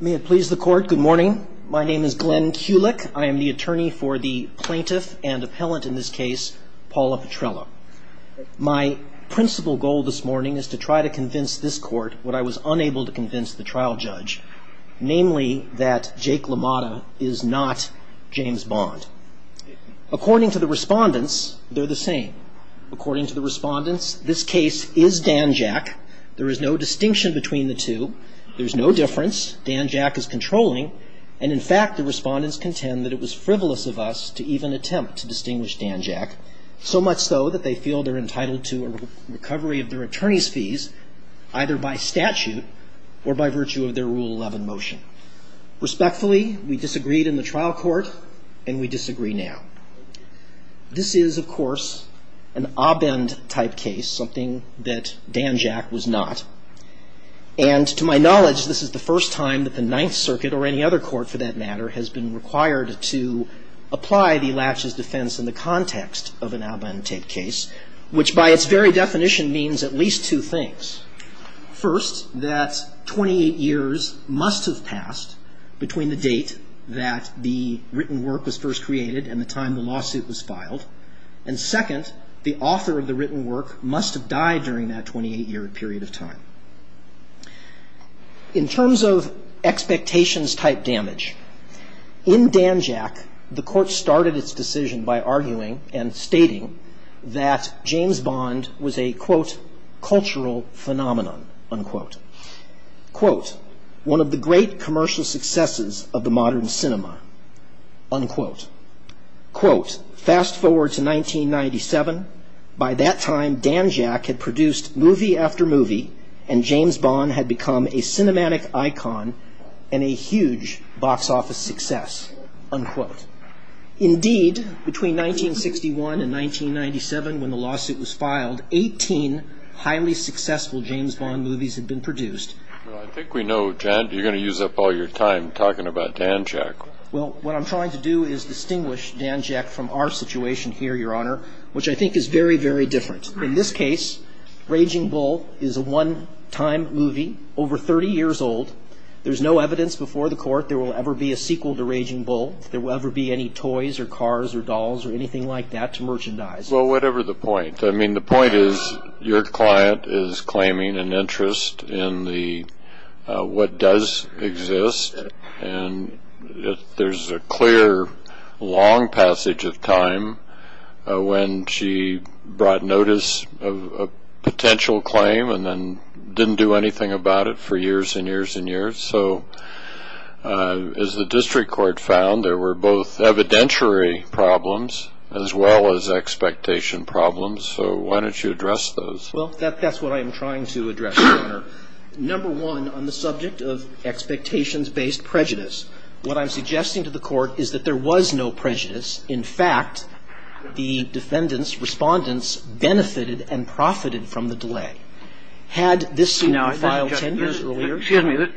May it please the Court, good morning. My name is Glenn Kulik. I am the attorney for the plaintiff and appellant in this case, Paula Petrella. My principal goal this morning is to try to convince this Court what I was unable to convince the trial judge, namely that Jake LaMotta is not James Bond. According to the respondents, they're the same. According to the respondents, this case is Dan Jack. There is no distinction between the two. There's no difference. Dan Jack is controlling. And in fact, the respondents contend that it was frivolous of us to even attempt to distinguish Dan Jack, so much so that they feel they're entitled to a recovery of their attorney's fees, either by statute or by virtue of their Rule 11 motion. Respectfully, we disagreed in the trial court, and we disagree now. This is, of course, an ob-end type case, something that Dan Jack was not. And to my knowledge, this is the first time that the Ninth Circuit, or any other court for that matter, has been required to apply the latches defense in the context of an ob-end type case, which by its very definition means at least two things. First, that 28 years must have passed between the date that the written work was first created and the time the lawsuit was filed. And second, the author of the written work must have died during that 28-year period of time. In terms of expectations-type damage, in Dan Jack, the court started its decision by arguing and stating that James Bond was a, quote, cultural phenomenon, unquote. Quote, one of the great commercial successes of the modern cinema, unquote. Quote, fast forward to 1997. By that time, Dan Jack had produced movie after movie, and James Bond had become a cinematic icon and a huge box office success, unquote. Indeed, between 1961 and 1997, when the lawsuit was filed, 18 highly successful James Bond movies had been produced. Well, I think we know, Jan, you're going to use up all your time talking about Dan Jack. Well, what I'm trying to do is distinguish Dan Jack from our situation here, Your Honor, which I think is very, very different. In this case, Raging Bull is a one-time movie over 30 years old. There's no evidence before the court there will ever be a sequel to Raging Bull, there will ever be any toys or cars or dolls or anything like that to merchandise. Well, whatever the point. I mean, the point is, your client is claiming an interest in the, what does exist, and there's a clear, long passage of time, what does not exist, when she brought notice of a potential claim and then didn't do anything about it for years and years and years. So, as the district court found, there were both evidentiary problems as well as expectation problems, so why don't you address those? Well, that's what I'm trying to address, Your Honor. Number one, on the subject of expectations-based prejudice, what I'm suggesting to the court is that there was no prejudice. In fact, the defendants, respondents, benefited and profited from the delay. Had this school filed ten years earlier- Excuse me,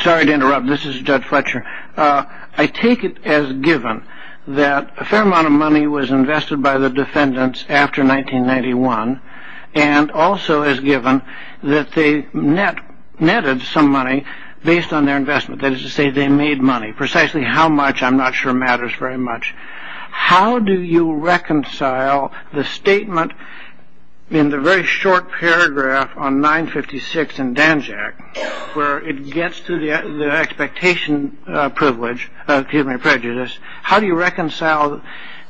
sorry to interrupt, this is Judge Fletcher. I take it as given that a fair amount of money was invested by the defendants after 1991, and also as given that they netted some money based on their investment, that is to say they made money. Precisely how much, I'm trying to reconcile the statement in the very short paragraph on 956 in Danjack, where it gets to the expectation privilege, excuse me, prejudice, how do you reconcile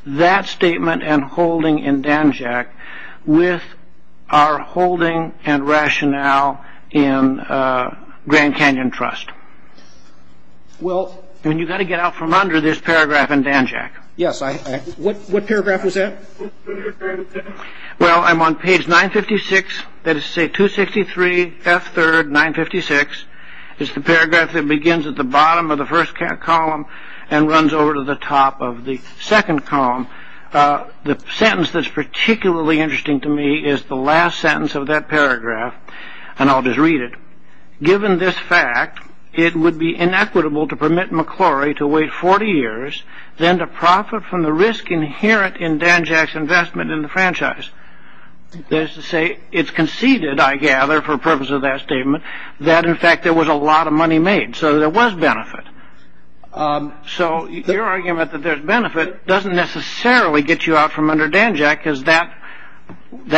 that statement and holding in Danjack with our holding and rationale in Grand Canyon Trust? Well- And you've got to get out from under this paragraph in Danjack. Yes, I have. What paragraph was that? Well, I'm on page 956, that is to say, 263, F3rd, 956. It's the paragraph that begins at the bottom of the first column and runs over to the top of the second column. The sentence that's particularly interesting to me is the last sentence of that paragraph, and I'll just read it. Given this fact, it would be inequitable to permit McClory to wait 40 years than to profit from the risk inherent in Danjack's investment in the franchise. That is to say, it's conceded, I gather, for the purpose of that statement, that in fact there was a lot of money made, so there was benefit. So your argument that there's benefit doesn't necessarily get you out from under Danjack, because that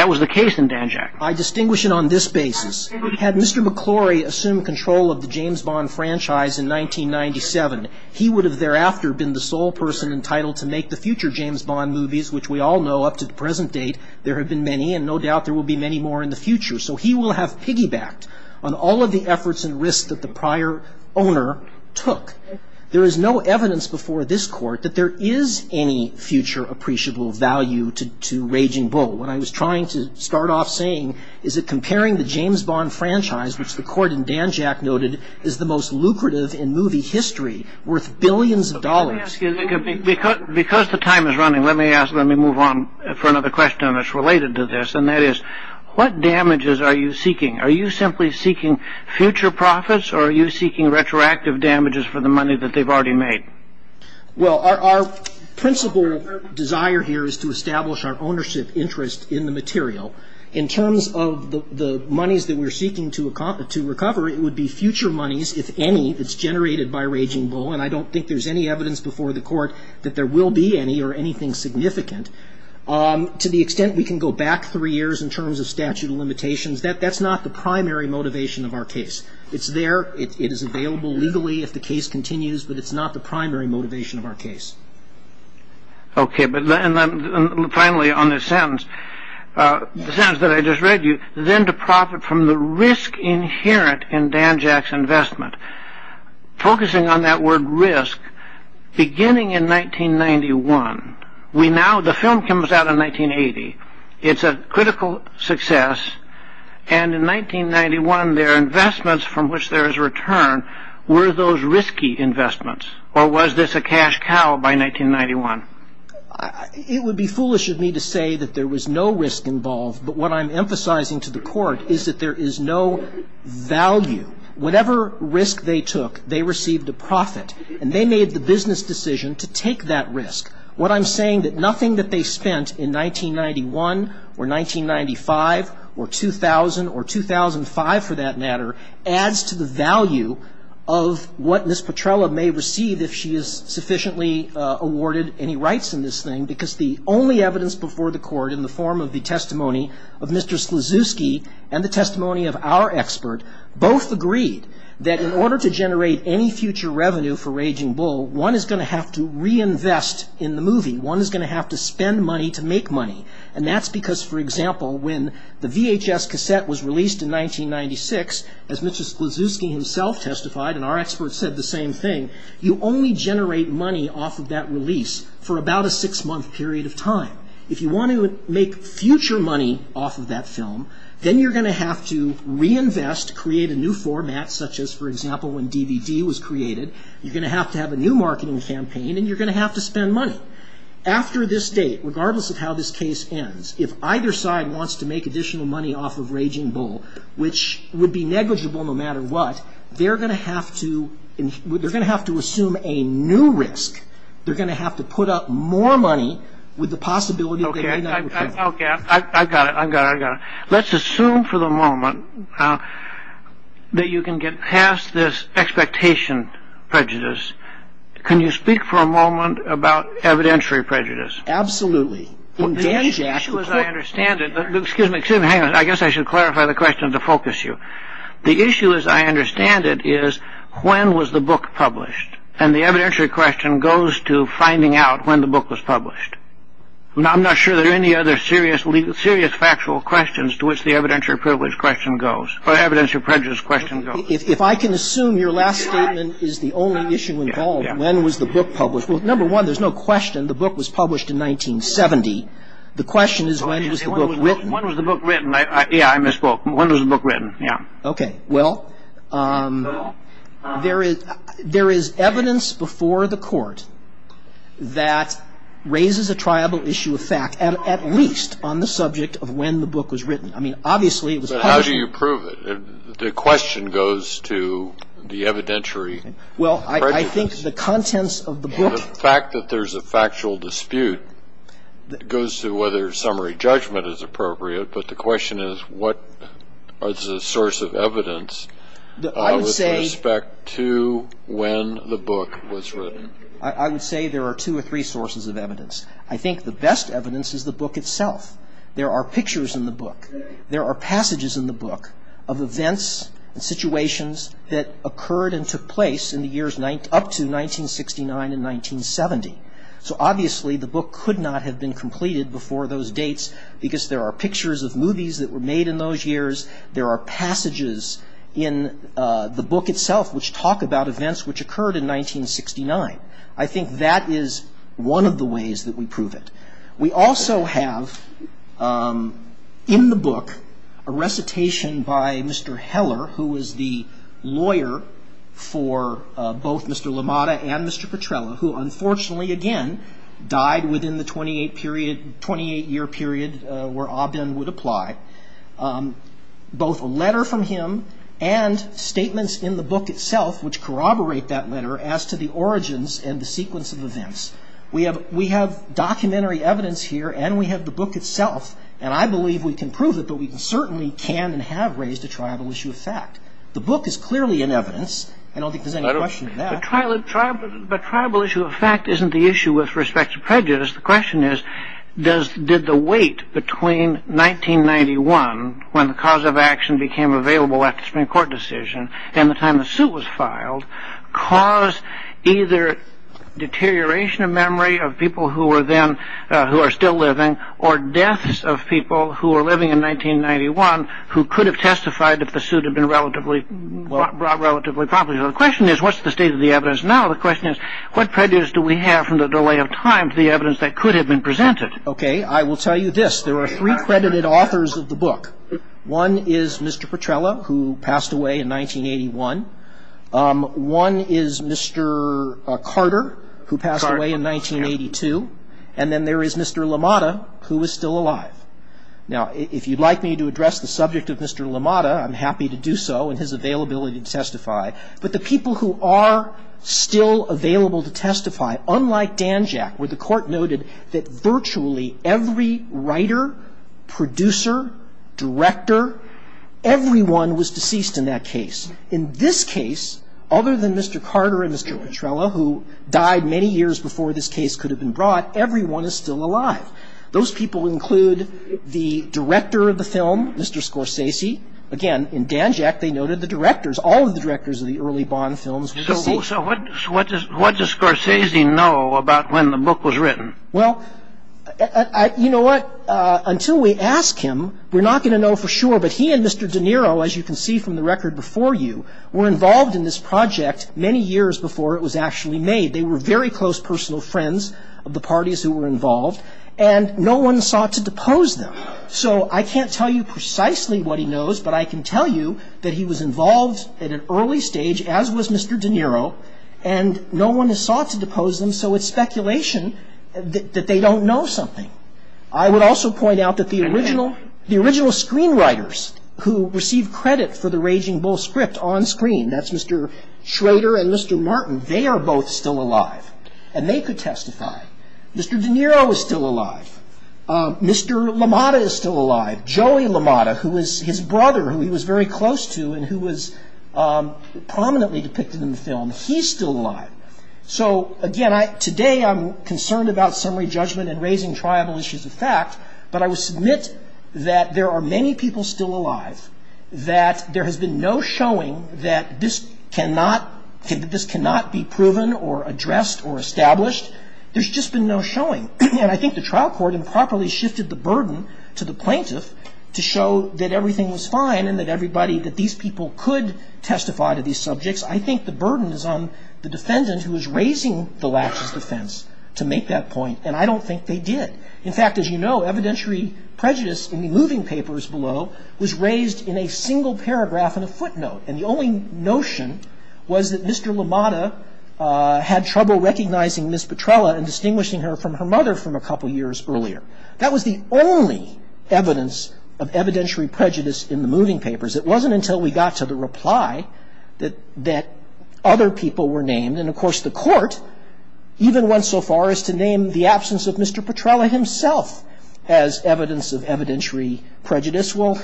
was the case in Danjack. I distinguish it on this basis. Had Mr. McClory assumed control of the James Bond franchise in 1997, he would have thereafter been the sole person entitled to make the future James Bond movies, which we all know up to the present date there have been many, and no doubt there will be many more in the future. So he will have piggybacked on all of the efforts and risks that the prior owner took. There is no evidence before this Court that there is any future appreciable value to Raging Bull. What I was trying to start off saying is that comparing the James Bond franchise, which the Court in Danjack noted is the most lucrative in movie history, worth billions of dollars... Let me ask you, because the time is running, let me ask, let me move on for another question that's related to this, and that is, what damages are you seeking? Are you simply seeking future profits, or are you seeking retroactive damages for the money that they've already made? Well, our principal desire here is to establish our ownership interest in the material. In terms of the monies that we're seeking to recover, it would be future monies, if any, that's generated by Raging Bull. And I don't think there's any evidence before the Court that there will be any or anything significant. To the extent we can go back three years in terms of statute of limitations, that's not the primary motivation of our case. It's there, it is available legally if the case continues, but it's not the primary motivation of our case. Okay, but then finally on this sentence, the sentence that I just read you, then to profit from the risk inherent in Danjack's investment. Focusing on that word risk, beginning in 1991, we now, the film comes out in 1980, it's a critical success, and in 1991 their investments from which there is return were those risky investments, or was this a cash cow by 1991? It would be foolish of me to say that there was no risk involved, but what I'm emphasizing to the Court is that there is no value. Whatever risk they took, they received a profit, and they made the business decision to take that risk. What I'm saying is that nothing that they spent in 1991 or 1995 or 2000 or 2005, for that matter, adds to the value of what Ms. Petrella may receive if she is sufficiently awarded any rights in this thing, because the only evidence before the Court in the form of the testimony of Mr. Sklizewski and the testimony of our expert both agreed that in order to generate any future revenue for Aging Bull, one is going to have to reinvest in the movie. One is going to have to spend money to make money, and that's because, for example, when the VHS cassette was released in 1996, as Mr. Sklizewski himself testified, and our expert said the same thing, you only generate money off of that release for about a six-month period of time. If you want to make future money off of that film, then you're going to have to reinvest, create a new format, such as, for example, when DVD was created. You're going to have to have a new marketing campaign, and you're going to have to spend money. After this date, regardless of how this case ends, if either side wants to make additional money off of Raging Bull, which would be negligible no matter what, they're going to have to assume a new risk. They're going to have to put up more money with the possibility that they may not return it. I've got it. I've got it. I've got it. Let's assume for the moment that you can get past this expectation prejudice. Can you speak for a moment about evidentiary prejudice? Absolutely. The issue, as I understand it... Excuse me. Excuse me. Hang on. I guess I should clarify the question to focus you. The issue, as I understand it, is when was the book published, and the evidentiary question goes to finding out when the book was published. I'm not sure there are any other serious factual questions to which the evidentiary privilege question goes, or evidentiary prejudice question goes. If I can assume your last statement is the only issue involved, when was the book published? Well, number one, there's no question the book was published in 1970. The question is when was the book written. When was the book written? Yeah, I misspoke. When was the book written? Yeah. Okay. Well, there is evidence before the court that raises a triable issue of fact, at least on the subject of when the book was written. I mean, obviously it was published... But how do you prove it? The question goes to the evidentiary prejudice. Well, I think the contents of the book... The fact that there's a factual dispute goes to whether summary judgment is appropriate, but the question is what is the source of evidence with respect to when the book was written? I would say there are two or three sources of evidence. I think the best evidence is the book itself. There are pictures in the book. There are passages in the book of events and situations that occurred and took place in the years up to 1969 and 1970. So obviously the book could not have been completed before those dates because there are pictures of movies that were made in those years. There are passages in the book itself which talk about events which occurred in 1969. I think that is one of the ways that we prove it. We also have in the book a recitation by Mr. Heller, who was the lawyer for both Mr. LaMotta and Mr. Petrella, who unfortunately again died within the 28-year period where Aubin would apply. Both a letter from him and statements in the book itself which corroborate that letter as to the origins and the sequence of events. We have documentary evidence here and we have the book itself, and I believe we can prove it, but we certainly can and have raised a tribal issue of fact. The book is clearly in evidence. I don't think there's any question of that. But tribal issue of fact isn't the issue with respect to prejudice. The question is, did the wait between 1991, when the cause of action became available after the Supreme Court decision, and the time the suit was filed, cause either deterioration of memory of people who are still living, or deaths of people who were living in 1991 who could have testified if the suit had been relatively properly. So the question is, what's the state of the evidence now? The question is, what prejudice do we have from the delay of time to the evidence that could have been presented? Okay, I will tell you this. There are three credited authors of the book. One is Mr. Petrella, who passed away in 1981. One is Mr. Carter, who passed away in 1982. And then there is Mr. LaMotta, who is still alive. Now, if you'd like me to address the subject of Mr. LaMotta, I'm happy to do so in his availability to testify. But the people who are still available to testify, unlike Danjack, where the Court noted that virtually every writer, producer, director, everyone was deceased in that case. In this case, other than Mr. Carter and Mr. Petrella, who died many years before this case could have been brought, everyone is still alive. Those people include the director of the film, Mr. Scorsese. Again, in Danjack, they noted the directors. All of the directors of the early Bond films were deceased. So what does Scorsese know about when the book was written? Well, you know what? Until we ask him, we're not going to know for sure. But he and Mr. De Niro, as you can see from the record before you, were involved in this project many years before it was actually made. They were very close personal friends of the parties who were involved, and no one sought to depose them. So I can't tell you precisely what he knows, but I can tell you that he was involved at an early stage, as was Mr. De Niro, and no one has sought to depose them, so it's speculation that they don't know something. I would also point out that the original screenwriters who received credit for the Raging Bull script on screen, that's Mr. Schrader and Mr. Martin, they are both still alive, and they could testify. Mr. De Niro is still alive. Mr. LaMotta is still alive. Joey LaMotta, who is his brother, who he was very close to and who was prominently depicted in the film, he's still alive. So again, today I'm concerned about summary judgment and raising triable issues of fact, but I will submit that there are many people still alive, that there has been no showing that this cannot be proven or addressed or established. There's just been no showing. And I think the trial court improperly shifted the burden to the plaintiff to show that everything was fine and that everybody, that these people could testify to these subjects. I think the burden is on the defendant, who is raising the last defense, to make that point, and I don't think they did. In fact, as you know, evidentiary prejudice in the moving papers below was raised in a single paragraph in a footnote, and the only notion was that Mr. LaMotta had trouble recognizing Ms. Petrella and distinguishing her from her mother from a couple years earlier. That was the only evidence of evidentiary prejudice in the moving papers. It wasn't until we got to the reply that other people were named, and of course the court even went so far as to name the absence of Mr. Petrella himself as evidence of evidentiary prejudice. This will,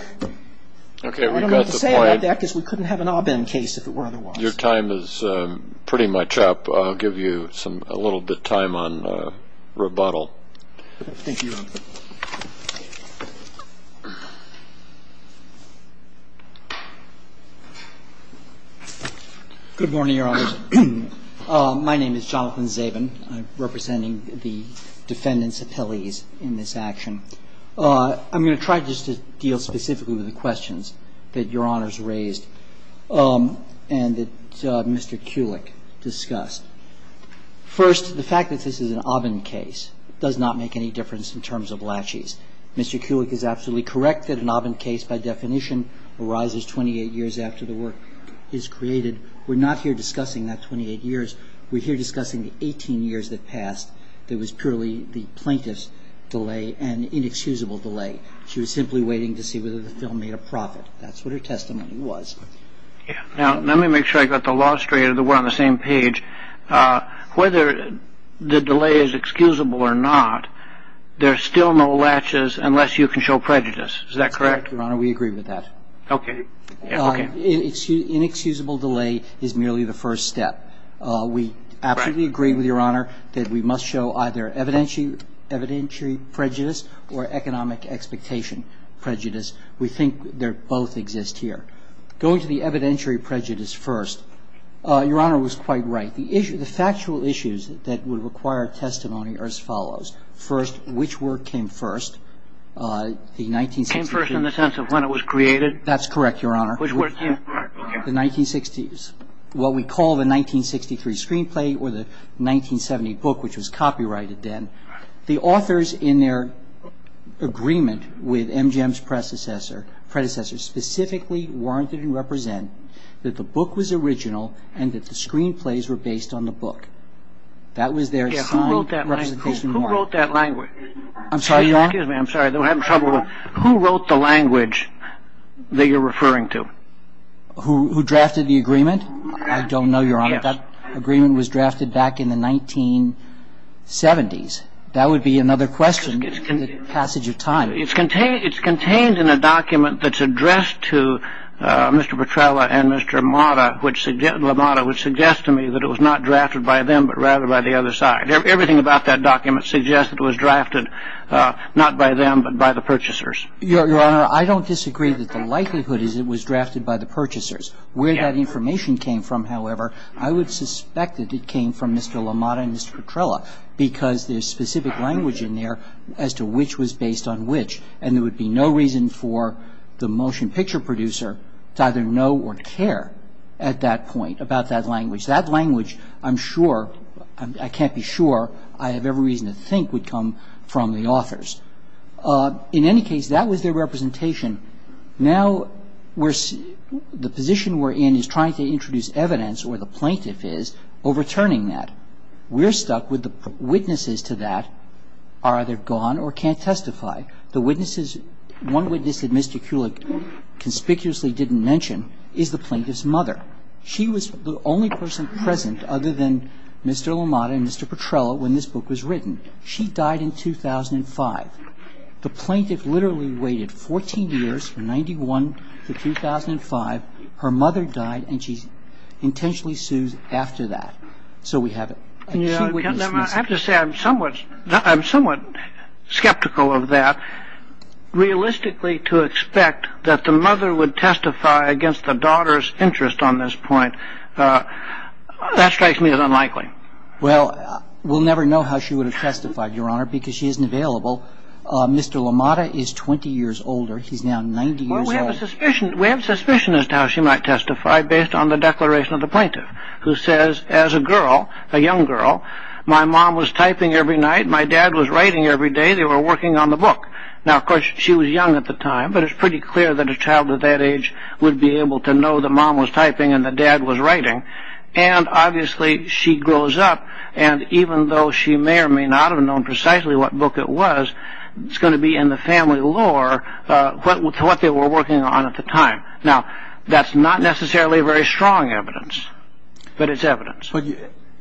I don't know what to say about that because we couldn't have an Obam case if it were otherwise. Your time is pretty much up. I'll give you some, a little bit of time on rebuttal. Thank you, Your Honor. Good morning, Your Honor. My name is Jonathan Zabin. I'm representing the defendant's office. I'm here to speak on the case of Mr. Kulik. I'm going to deal specifically with the questions that Your Honor has raised and that Mr. Kulik discussed. First, the fact that this is an Obam case does not make any difference in terms of laches. Mr. Kulik is absolutely correct that an Obam case by definition arises 28 years after the work is created. We're not here discussing that 28 years. We're here discussing 18 years that passed that was purely the plaintiff's delay and inexcusable delay. She was simply waiting to see whether the film made a profit. That's what her testimony was. Now, let me make sure I got the law straight, that we're on the same page. Whether the delay is excusable or not, there's still no laches unless you can show prejudice. Is that correct? That's correct, Your Honor. We agree with that. Okay. Inexcusable delay is merely the first step. We absolutely agree with Your Honor that we must show either evidentiary prejudice or economic expectation prejudice. We think they both exist here. Going to the evidentiary prejudice first, Your Honor was quite right. The factual issues that would require testimony are as follows. First, which work came first? The 1960s Came first in the sense of when it was created? That's correct, Your Honor. Which work came first? The 1960s. What we call the 1963 screenplay or the 1970 book, which was copyrighted then. The authors in their agreement with MGM's predecessor specifically warranted and represent that the book was original and that the screenplays were based on the book. That was their signed representation of the work. Who wrote that language? I'm sorry, Your Honor? Who wrote the language that you're referring to? Who drafted the agreement? I don't know, Your Honor. That agreement was drafted back in the 1970s. That would be another question in the passage of time. It's contained in a document that's addressed to Mr. Petrella and Mr. LaMotta, which suggests to me that it was not drafted by them but rather by the other side. Everything about that document suggests it was drafted not by them but by the purchasers. Your Honor, I don't disagree that the likelihood is it was drafted by the purchasers. Where that information came from, however, I would suspect that it came from Mr. LaMotta and Mr. Petrella because there's specific language in there as to which was based on which. And there would be no reason for the motion picture producer to either know or care at that point about that language. That language, I'm sure, I can't be sure, I have every reason to think would come from the authors. In any case, that was their representation. Now the position we're in is trying to introduce evidence, or the plaintiff is, overturning that. We're stuck with the witnesses to that are either gone or can't testify. The witnesses, one witness that Mr. Kulik conspicuously didn't mention is the plaintiff's mother. She was the only person present other than Mr. LaMotta and Mr. Petrella when this book was written. She died in 2005. The plaintiff literally waited 14 years from 91 to 2005. Her mother died and she intentionally sues after that. So we have it. I have to say I'm somewhat skeptical of that. Realistically to expect that the mother would testify against the daughter's interest on this point, that strikes me as unlikely. Well, we'll never know how she would have testified, Your Honor, because she isn't available. Mr. LaMotta is 20 years older. He's now 90 years old. Well, we have a suspicion as to how she might testify based on the declaration of the plaintiff who says, as a girl, a young girl, my mom was typing every night, my dad was writing every day, they were working on the book. Now, of course, she was young at the time, but it's pretty clear that a child at that age would be able to know the mom was typing and the dad was writing. And obviously she grows up and even though she may or may not have known precisely what book it was, it's going to be in the family lore what they were working on at the time. Now, that's not necessarily very strong evidence, but it's evidence. But,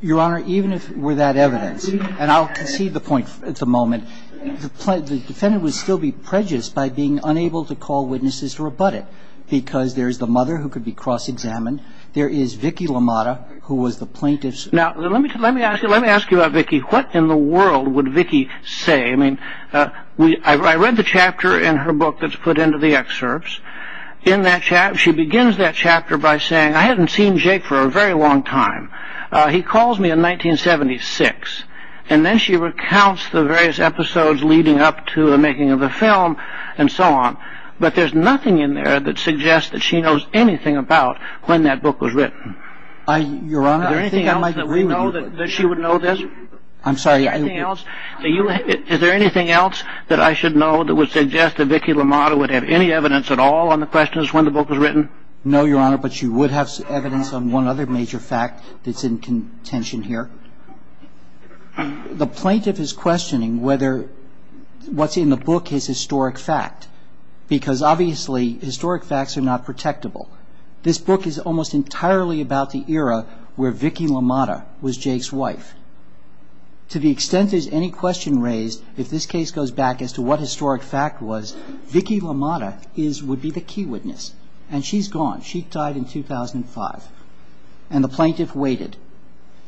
Your Honor, even if it were that evidence, and I'll concede the point at the moment, the defendant would still be prejudiced by being unable to call witnesses to rebut it because there's the mother who could be cross-examined, there is Vicki LaMotta, who was the plaintiff's... Now, let me ask you about Vicki. What in the world would Vicki say? I mean, I read the chapter in her book that's put into the excerpts. She begins that chapter by saying, I hadn't seen Jake for a very long time. He calls me in 1976. And then she recounts the various episodes leading up to the making of the film and so on. But there's nothing in there that suggests that she knows anything about when that book was written. Your Honor, I think I might agree with you... Is there anything else that we know that she would know this? I'm sorry, I... Is there anything else that I should know that would suggest that Vicki LaMotta would have any evidence at all on the questions when the book was written? No, Your Honor, but she would have evidence on one other major fact that's in contention here. The plaintiff is questioning whether what's in the book is historic fact because obviously historic facts are not protectable. This book is almost entirely about the era where Vicki LaMotta was Jake's wife. To the extent there's any question raised, if this case goes back as to what historic fact was, Vicki LaMotta would be the key witness. And she's gone. She died in 2005. And the plaintiff waited.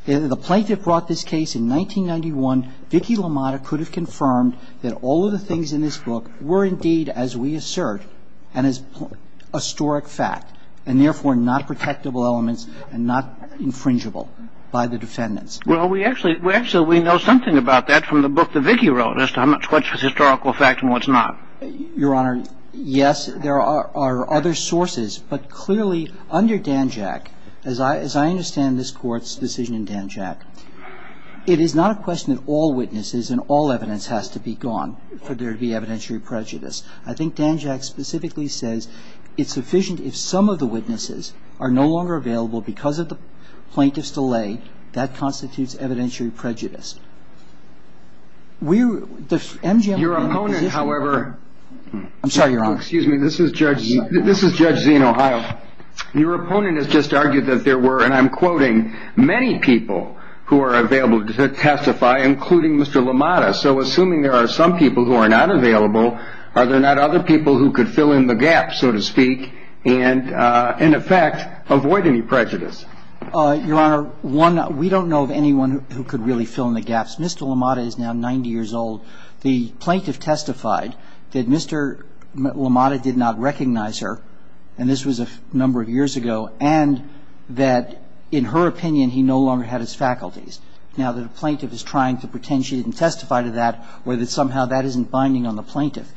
The plaintiff brought this case in 1991. Vicki LaMotta could have confirmed that all of the things in this book were indeed, as we assert, an historic fact and therefore not protectable elements and not infringable by the defendants. Well, we actually know something about that from the book that Vicki wrote as to what's historical fact and what's not. Your Honor, yes, there are other sources. But clearly under Danjack, as I understand this Court's decision in Danjack, it is not a question that all witnesses and all evidence has to be gone for there to be evidentiary prejudice. I think Danjack specifically says it's sufficient if some of the witnesses are no longer available because of the plaintiff's delay, that constitutes evidentiary prejudice. Your opponent, however — I'm sorry, Your Honor. Excuse me. This is Judge Zien, Ohio. Your opponent has just argued that there were, and I'm quoting, many people who are available to testify, including Mr. LaMotta. So assuming there are some people who are not available, are there not other people who could fill in the gap, so to speak, and in effect avoid any prejudice? Mr. LaMotta is now 90 years old. The plaintiff testified that Mr. LaMotta did not recognize her, and this was a number of years ago, and that in her opinion he no longer had his faculties. Now, the plaintiff is trying to pretend she didn't testify to that or that somehow that isn't binding on the plaintiff.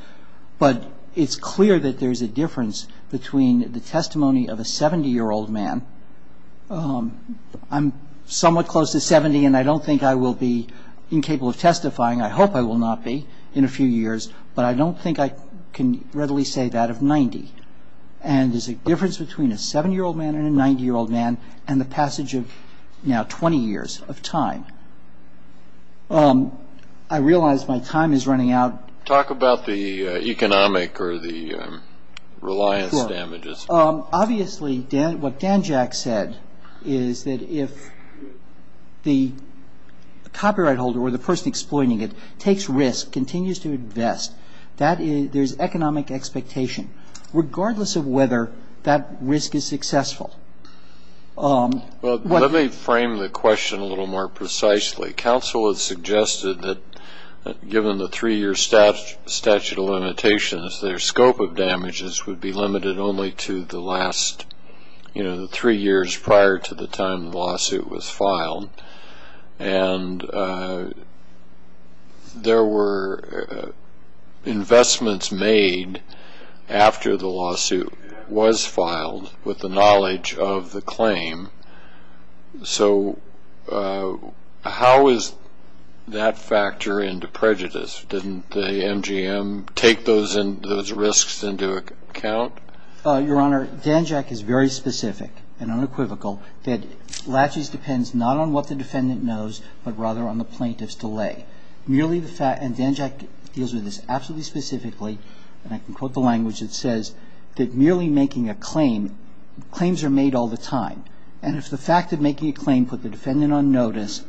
But it's clear that there's a difference between the testimony of a 70-year-old man — I'm somewhat close to 70, and I don't think I will be incapable of testifying. I hope I will not be in a few years, but I don't think I can readily say that of 90. And there's a difference between a 70-year-old man and a 90-year-old man and the passage of now 20 years of time. I realize my time is running out. Talk about the economic or the reliance damages. Obviously, what Dan Jack said is that if the copyright holder or the person exploiting it takes risk, continues to invest, there's economic expectation, regardless of whether that risk is successful. Let me frame the question a little more precisely. Counsel has suggested that given the three-year statute of limitations, their scope of damages would be limited only to the last three years prior to the time the lawsuit was filed. And there were investments made after the lawsuit was filed with the knowledge of the claim. So how is that factor into prejudice? Didn't the MGM take those risks into account? Your Honor, Dan Jack is very specific and unequivocal that latches depends not on what the defendant knows, but rather on the plaintiff's delay. And Dan Jack deals with this absolutely specifically, and I can quote the language that says that merely making a claim, claims are made all the time. And if the fact of making a claim put the defendant on notice,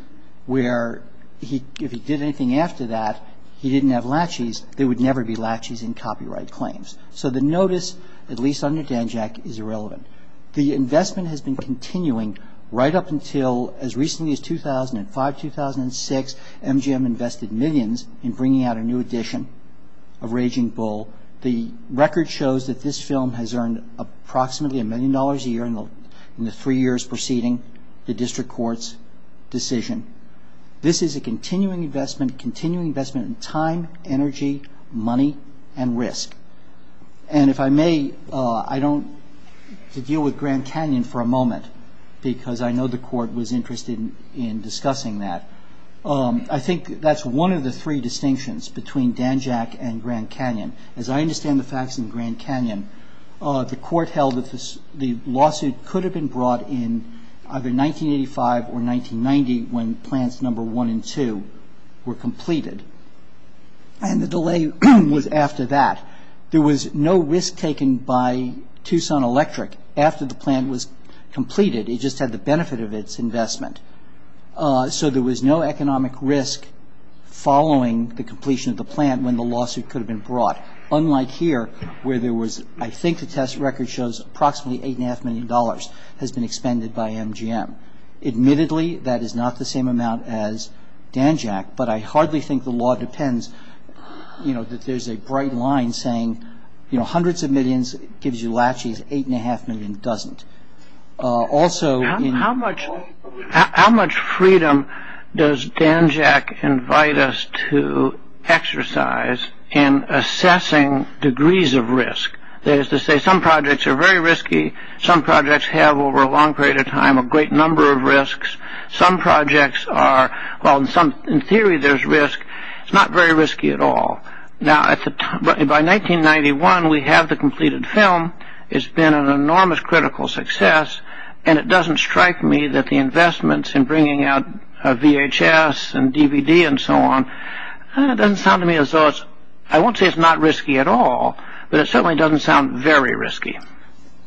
where if he did anything after that, he didn't have latches, there would never be latches in copyright claims. So the notice, at least under Dan Jack, is irrelevant. The investment has been continuing right up until as recently as 2005, 2006, MGM invested millions in bringing out a new edition of Raging Bull. The record shows that this film has earned approximately a million dollars a year in the three years preceding the district court's decision. This is a continuing investment, continuing investment in time, energy, money, and risk. And if I may, I don't deal with Grand Canyon for a moment, because I know the court was interested in discussing that. I think that's one of the three distinctions between Dan Jack and Grand Canyon. As I understand the facts in Grand Canyon, the court held that the lawsuit could have been brought in either 1985 or 1990 when plans number one and two were completed. And the delay was after that. There was no risk taken by Tucson Electric after the plan was completed. It just had the benefit of its investment. So there was no economic risk following the completion of the plan when the lawsuit could have been brought, unlike here where there was, I think the test record shows approximately $8.5 million has been expended by MGM. Admittedly, that is not the same amount as Dan Jack, but I hardly think the law depends, you know, that there's a bright line saying, you know, hundreds of millions gives you latches, 8.5 million doesn't. How much freedom does Dan Jack invite us to exercise in assessing degrees of risk? That is to say, some projects are very risky. Some projects have over a long period of time a great number of risks. Some projects are, well, in theory there's risk. It's not very risky at all. Now, by 1991, we have the completed film. It's been an enormous critical success, and it doesn't strike me that the investments in bringing out VHS and DVD and so on, it doesn't sound to me as though it's, I won't say it's not risky at all, but it certainly doesn't sound very risky.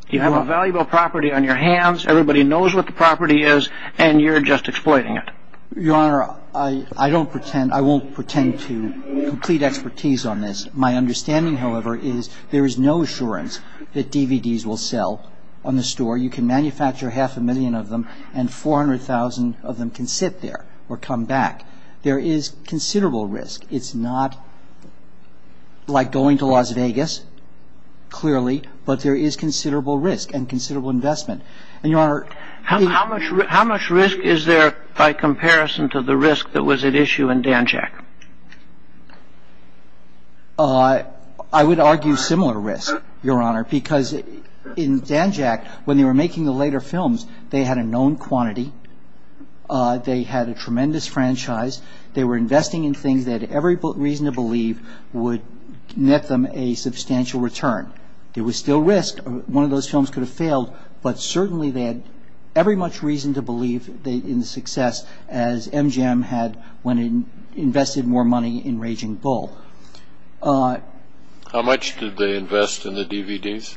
You have a valuable property on your hands. Everybody knows what the property is, and you're just exploiting it. Your Honor, I don't pretend, I won't pretend to complete expertise on this. My understanding, however, is there is no assurance that DVDs will sell on the store. You can manufacture half a million of them, and 400,000 of them can sit there or come back. There is considerable risk. It's not like going to Las Vegas, clearly, but there is considerable risk and considerable investment. And, Your Honor, How much risk is there by comparison to the risk that was at issue in Danjak? I would argue similar risk, Your Honor, because in Danjak, when they were making the later films, they had a known quantity. They had a tremendous franchise. They were investing in things that every reason to believe would net them a substantial return. There was still risk. One of those films could have failed, but certainly they had every much reason to believe in the success as MGM had when it invested more money in Raging Bull. How much did they invest in the DVDs?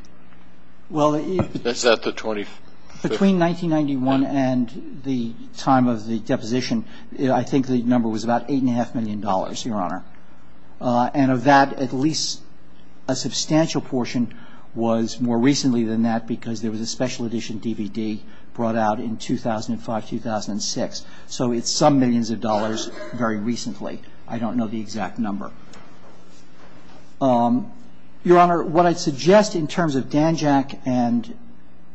Is that the 20%? Between 1991 and the time of the deposition, I think the number was about $8.5 million, Your Honor. And of that, at least a substantial portion was more recently than that because there was a special edition DVD brought out in 2005, 2006. So it's some millions of dollars very recently. I don't know the exact number. Your Honor, what I'd suggest in terms of Danjak and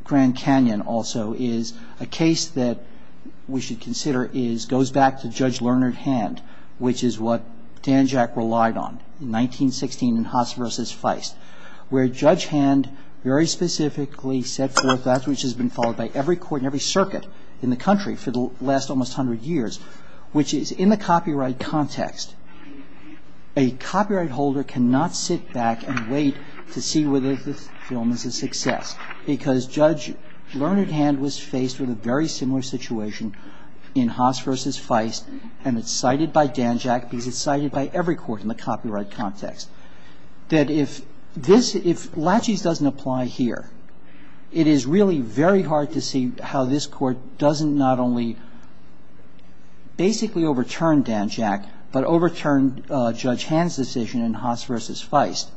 Grand Canyon also is a case that we should consider goes back to Judge Lerner's hand, which is what Danjak relied on in 1916 in Haas v. Feist, where Judge Hand very specifically set forth that which has been followed by every court and every circuit in the country for the last almost 100 years, which is in the copyright context, a copyright holder cannot sit back and wait to see whether the film is a success because Judge Lerner's hand was faced with a very similar situation in Haas v. Feist and it's cited by Danjak because it's cited by every court in the copyright context. That if this, if Latches doesn't apply here, it is really very hard to see how this Court doesn't not only basically overturn Danjak, but overturn Judge Hand's decision in Haas v. Feist.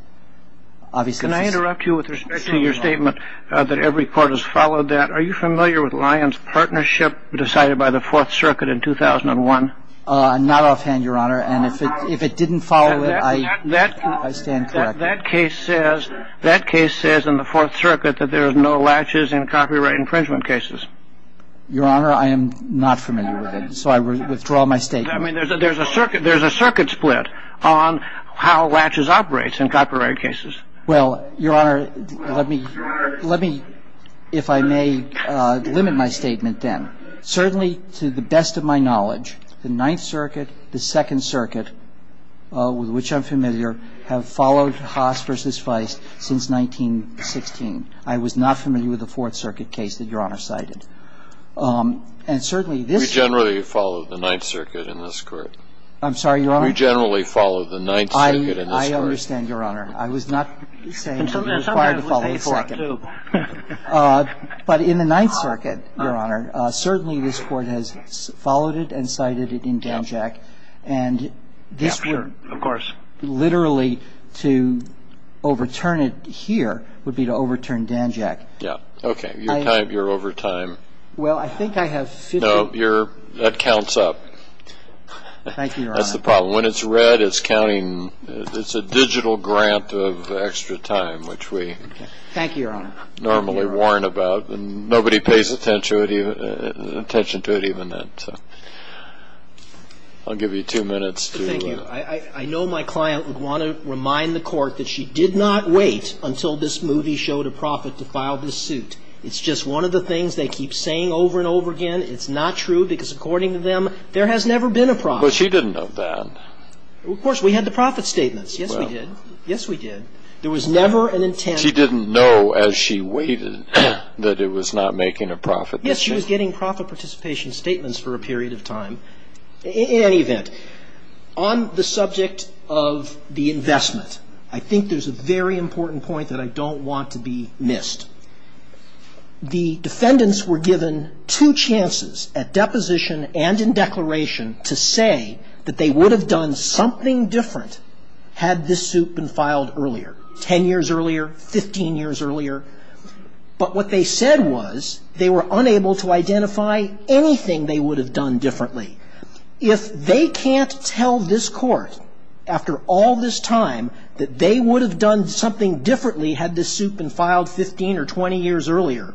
Can I interrupt you with respect to your statement that every court has followed that? Are you familiar with Lyons Partnership decided by the Fourth Circuit in 2001? Not offhand, Your Honor, and if it didn't follow it, I stand corrected. That case says in the Fourth Circuit that there is no Latches in copyright infringement cases. Your Honor, I am not familiar with it, so I withdraw my statement. I mean, there's a circuit split on how Latches operates in copyright cases. Well, Your Honor, let me, if I may, limit my statement then. Certainly to the best of my knowledge, the Ninth Circuit, the Second Circuit, with which I'm familiar, have followed Haas v. Feist since 1916. I was not familiar with the Fourth Circuit case that Your Honor cited. We generally follow the Ninth Circuit in this Court. I'm sorry, Your Honor? We generally follow the Ninth Circuit in this Court. I understand, Your Honor. I was not saying that you're required to follow the Second. But in the Ninth Circuit, Your Honor, certainly this Court has followed it and cited it in Danjack. And this would, literally, to overturn it here would be to overturn Danjack. Yeah. Okay. You're over time. Well, I think I have 15 minutes. No, that counts up. Thank you, Your Honor. That's the problem. When it's read, it's counting. It's a digital grant of extra time, which we normally warn about. And nobody pays attention to it even then. So I'll give you two minutes to ---- Thank you. I know my client would want to remind the Court that she did not wait until this movie showed a profit to file this suit. It's just one of the things they keep saying over and over again. It's not true because, according to them, there has never been a profit. But she didn't know that. Of course, we had the profit statements. Yes, we did. Yes, we did. There was never an intent. She didn't know as she waited that it was not making a profit. Yes, she was getting profit participation statements for a period of time. In any event, on the subject of the investment, I think there's a very important point that I don't want to be missed. The defendants were given two chances at deposition and in declaration to say that they would have done something different had this suit been filed earlier, 10 years earlier, 15 years earlier. But what they said was they were unable to identify anything they would have done differently. If they can't tell this Court, after all this time, that they would have done something differently had this suit been filed 15 or 20 years earlier,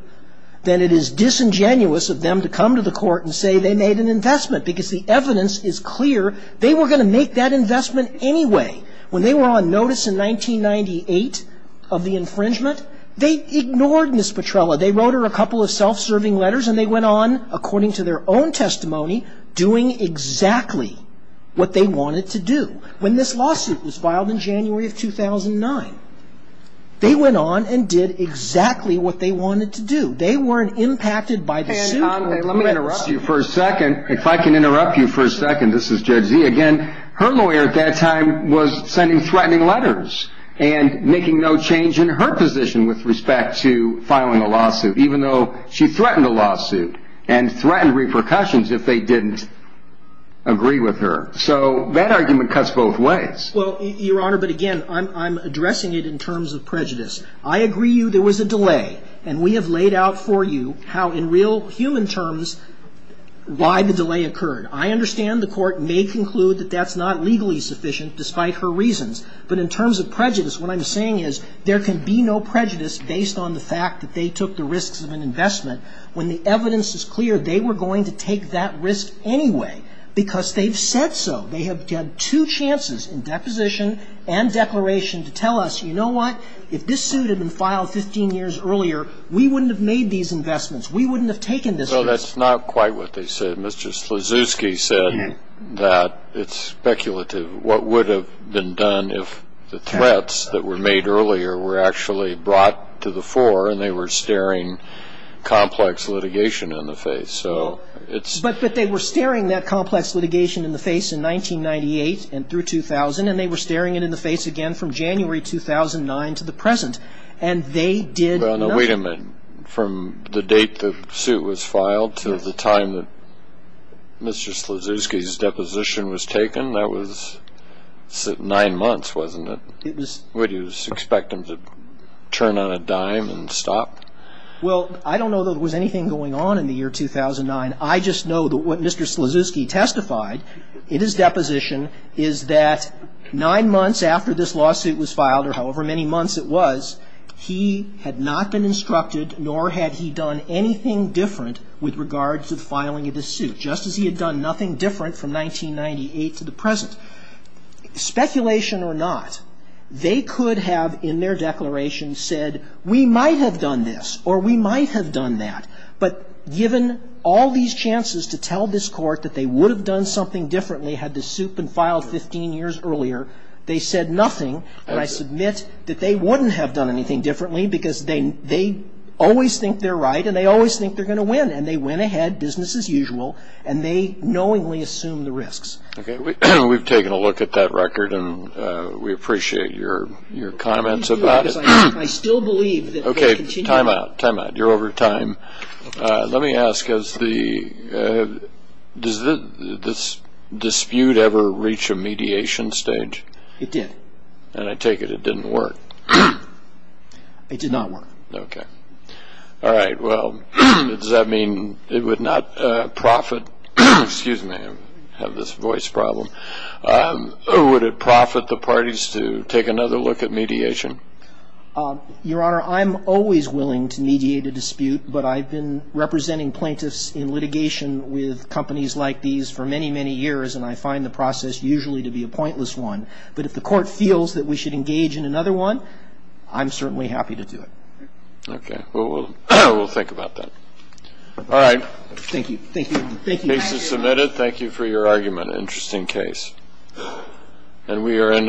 then it is disingenuous of them to come to the Court and say they made an investment because the evidence is clear they were going to make that investment anyway. When they were on notice in 1998 of the infringement, they ignored Ms. Petrella. They wrote her a couple of self-serving letters and they went on, according to their own testimony, doing exactly what they wanted to do. When this lawsuit was filed in January of 2009, they went on and did exactly what they wanted to do. They weren't impacted by the suit. Let me interrupt you for a second. If I can interrupt you for a second. This is Judge Zee again. Her lawyer at that time was sending threatening letters and making no change in her position with respect to filing a lawsuit, even though she threatened a lawsuit and threatened repercussions if they didn't agree with her. So that argument cuts both ways. Well, Your Honor, but again, I'm addressing it in terms of prejudice. I agree there was a delay, and we have laid out for you how in real human terms why the delay occurred. I understand the Court may conclude that that's not legally sufficient despite her reasons. But in terms of prejudice, what I'm saying is there can be no prejudice based on the fact that they took the risks of an investment when the evidence is clear they were going to take that risk anyway because they've said so. They have had two chances in deposition and declaration to tell us, you know what, if this suit had been filed 15 years earlier, we wouldn't have made these investments. We wouldn't have taken this risk. Well, that's not quite what they said. Mr. Slizewski said that it's speculative what would have been done if the threats that were made earlier were actually brought to the fore and they were staring complex litigation in the face. But they were staring that complex litigation in the face in 1998 through 2000, and they were staring it in the face again from January 2009 to the present, and they did nothing. Wait a minute. From the date the suit was filed to the time that Mr. Slizewski's deposition was taken, that was nine months, wasn't it? It was. What, do you expect them to turn on a dime and stop? Well, I don't know that there was anything going on in the year 2009. I just know that what Mr. Slizewski testified in his deposition is that nine months after this lawsuit was filed, or however many months it was, he had not been instructed nor had he done anything different with regards to filing of this suit, just as he had done nothing different from 1998 to the present. Speculation or not, they could have in their declaration said we might have done this or we might have done that, but given all these chances to tell this court that they would have done something differently had the suit been filed 15 years earlier, they said nothing, and I submit that they wouldn't have done anything differently because they always think they're right and they always think they're going to win, and they went ahead, business as usual, and they knowingly assumed the risks. Okay. We've taken a look at that record, and we appreciate your comments about it. Okay. Time out. Time out. You're over time. Let me ask, does this dispute ever reach a mediation stage? It did. And I take it it didn't work. It did not work. Okay. All right. Well, does that mean it would not profit, excuse me, I have this voice problem, or would it profit the parties to take another look at mediation? Your Honor, I'm always willing to mediate a dispute, but I've been representing plaintiffs in litigation with companies like these for many, many years, and I find the process usually to be a pointless one, but if the court feels that we should engage in another one, I'm certainly happy to do it. Okay. Well, we'll think about that. All right. Thank you. Thank you. Thank you. The case is submitted. Thank you for your argument. Interesting case. And we are in adjournment.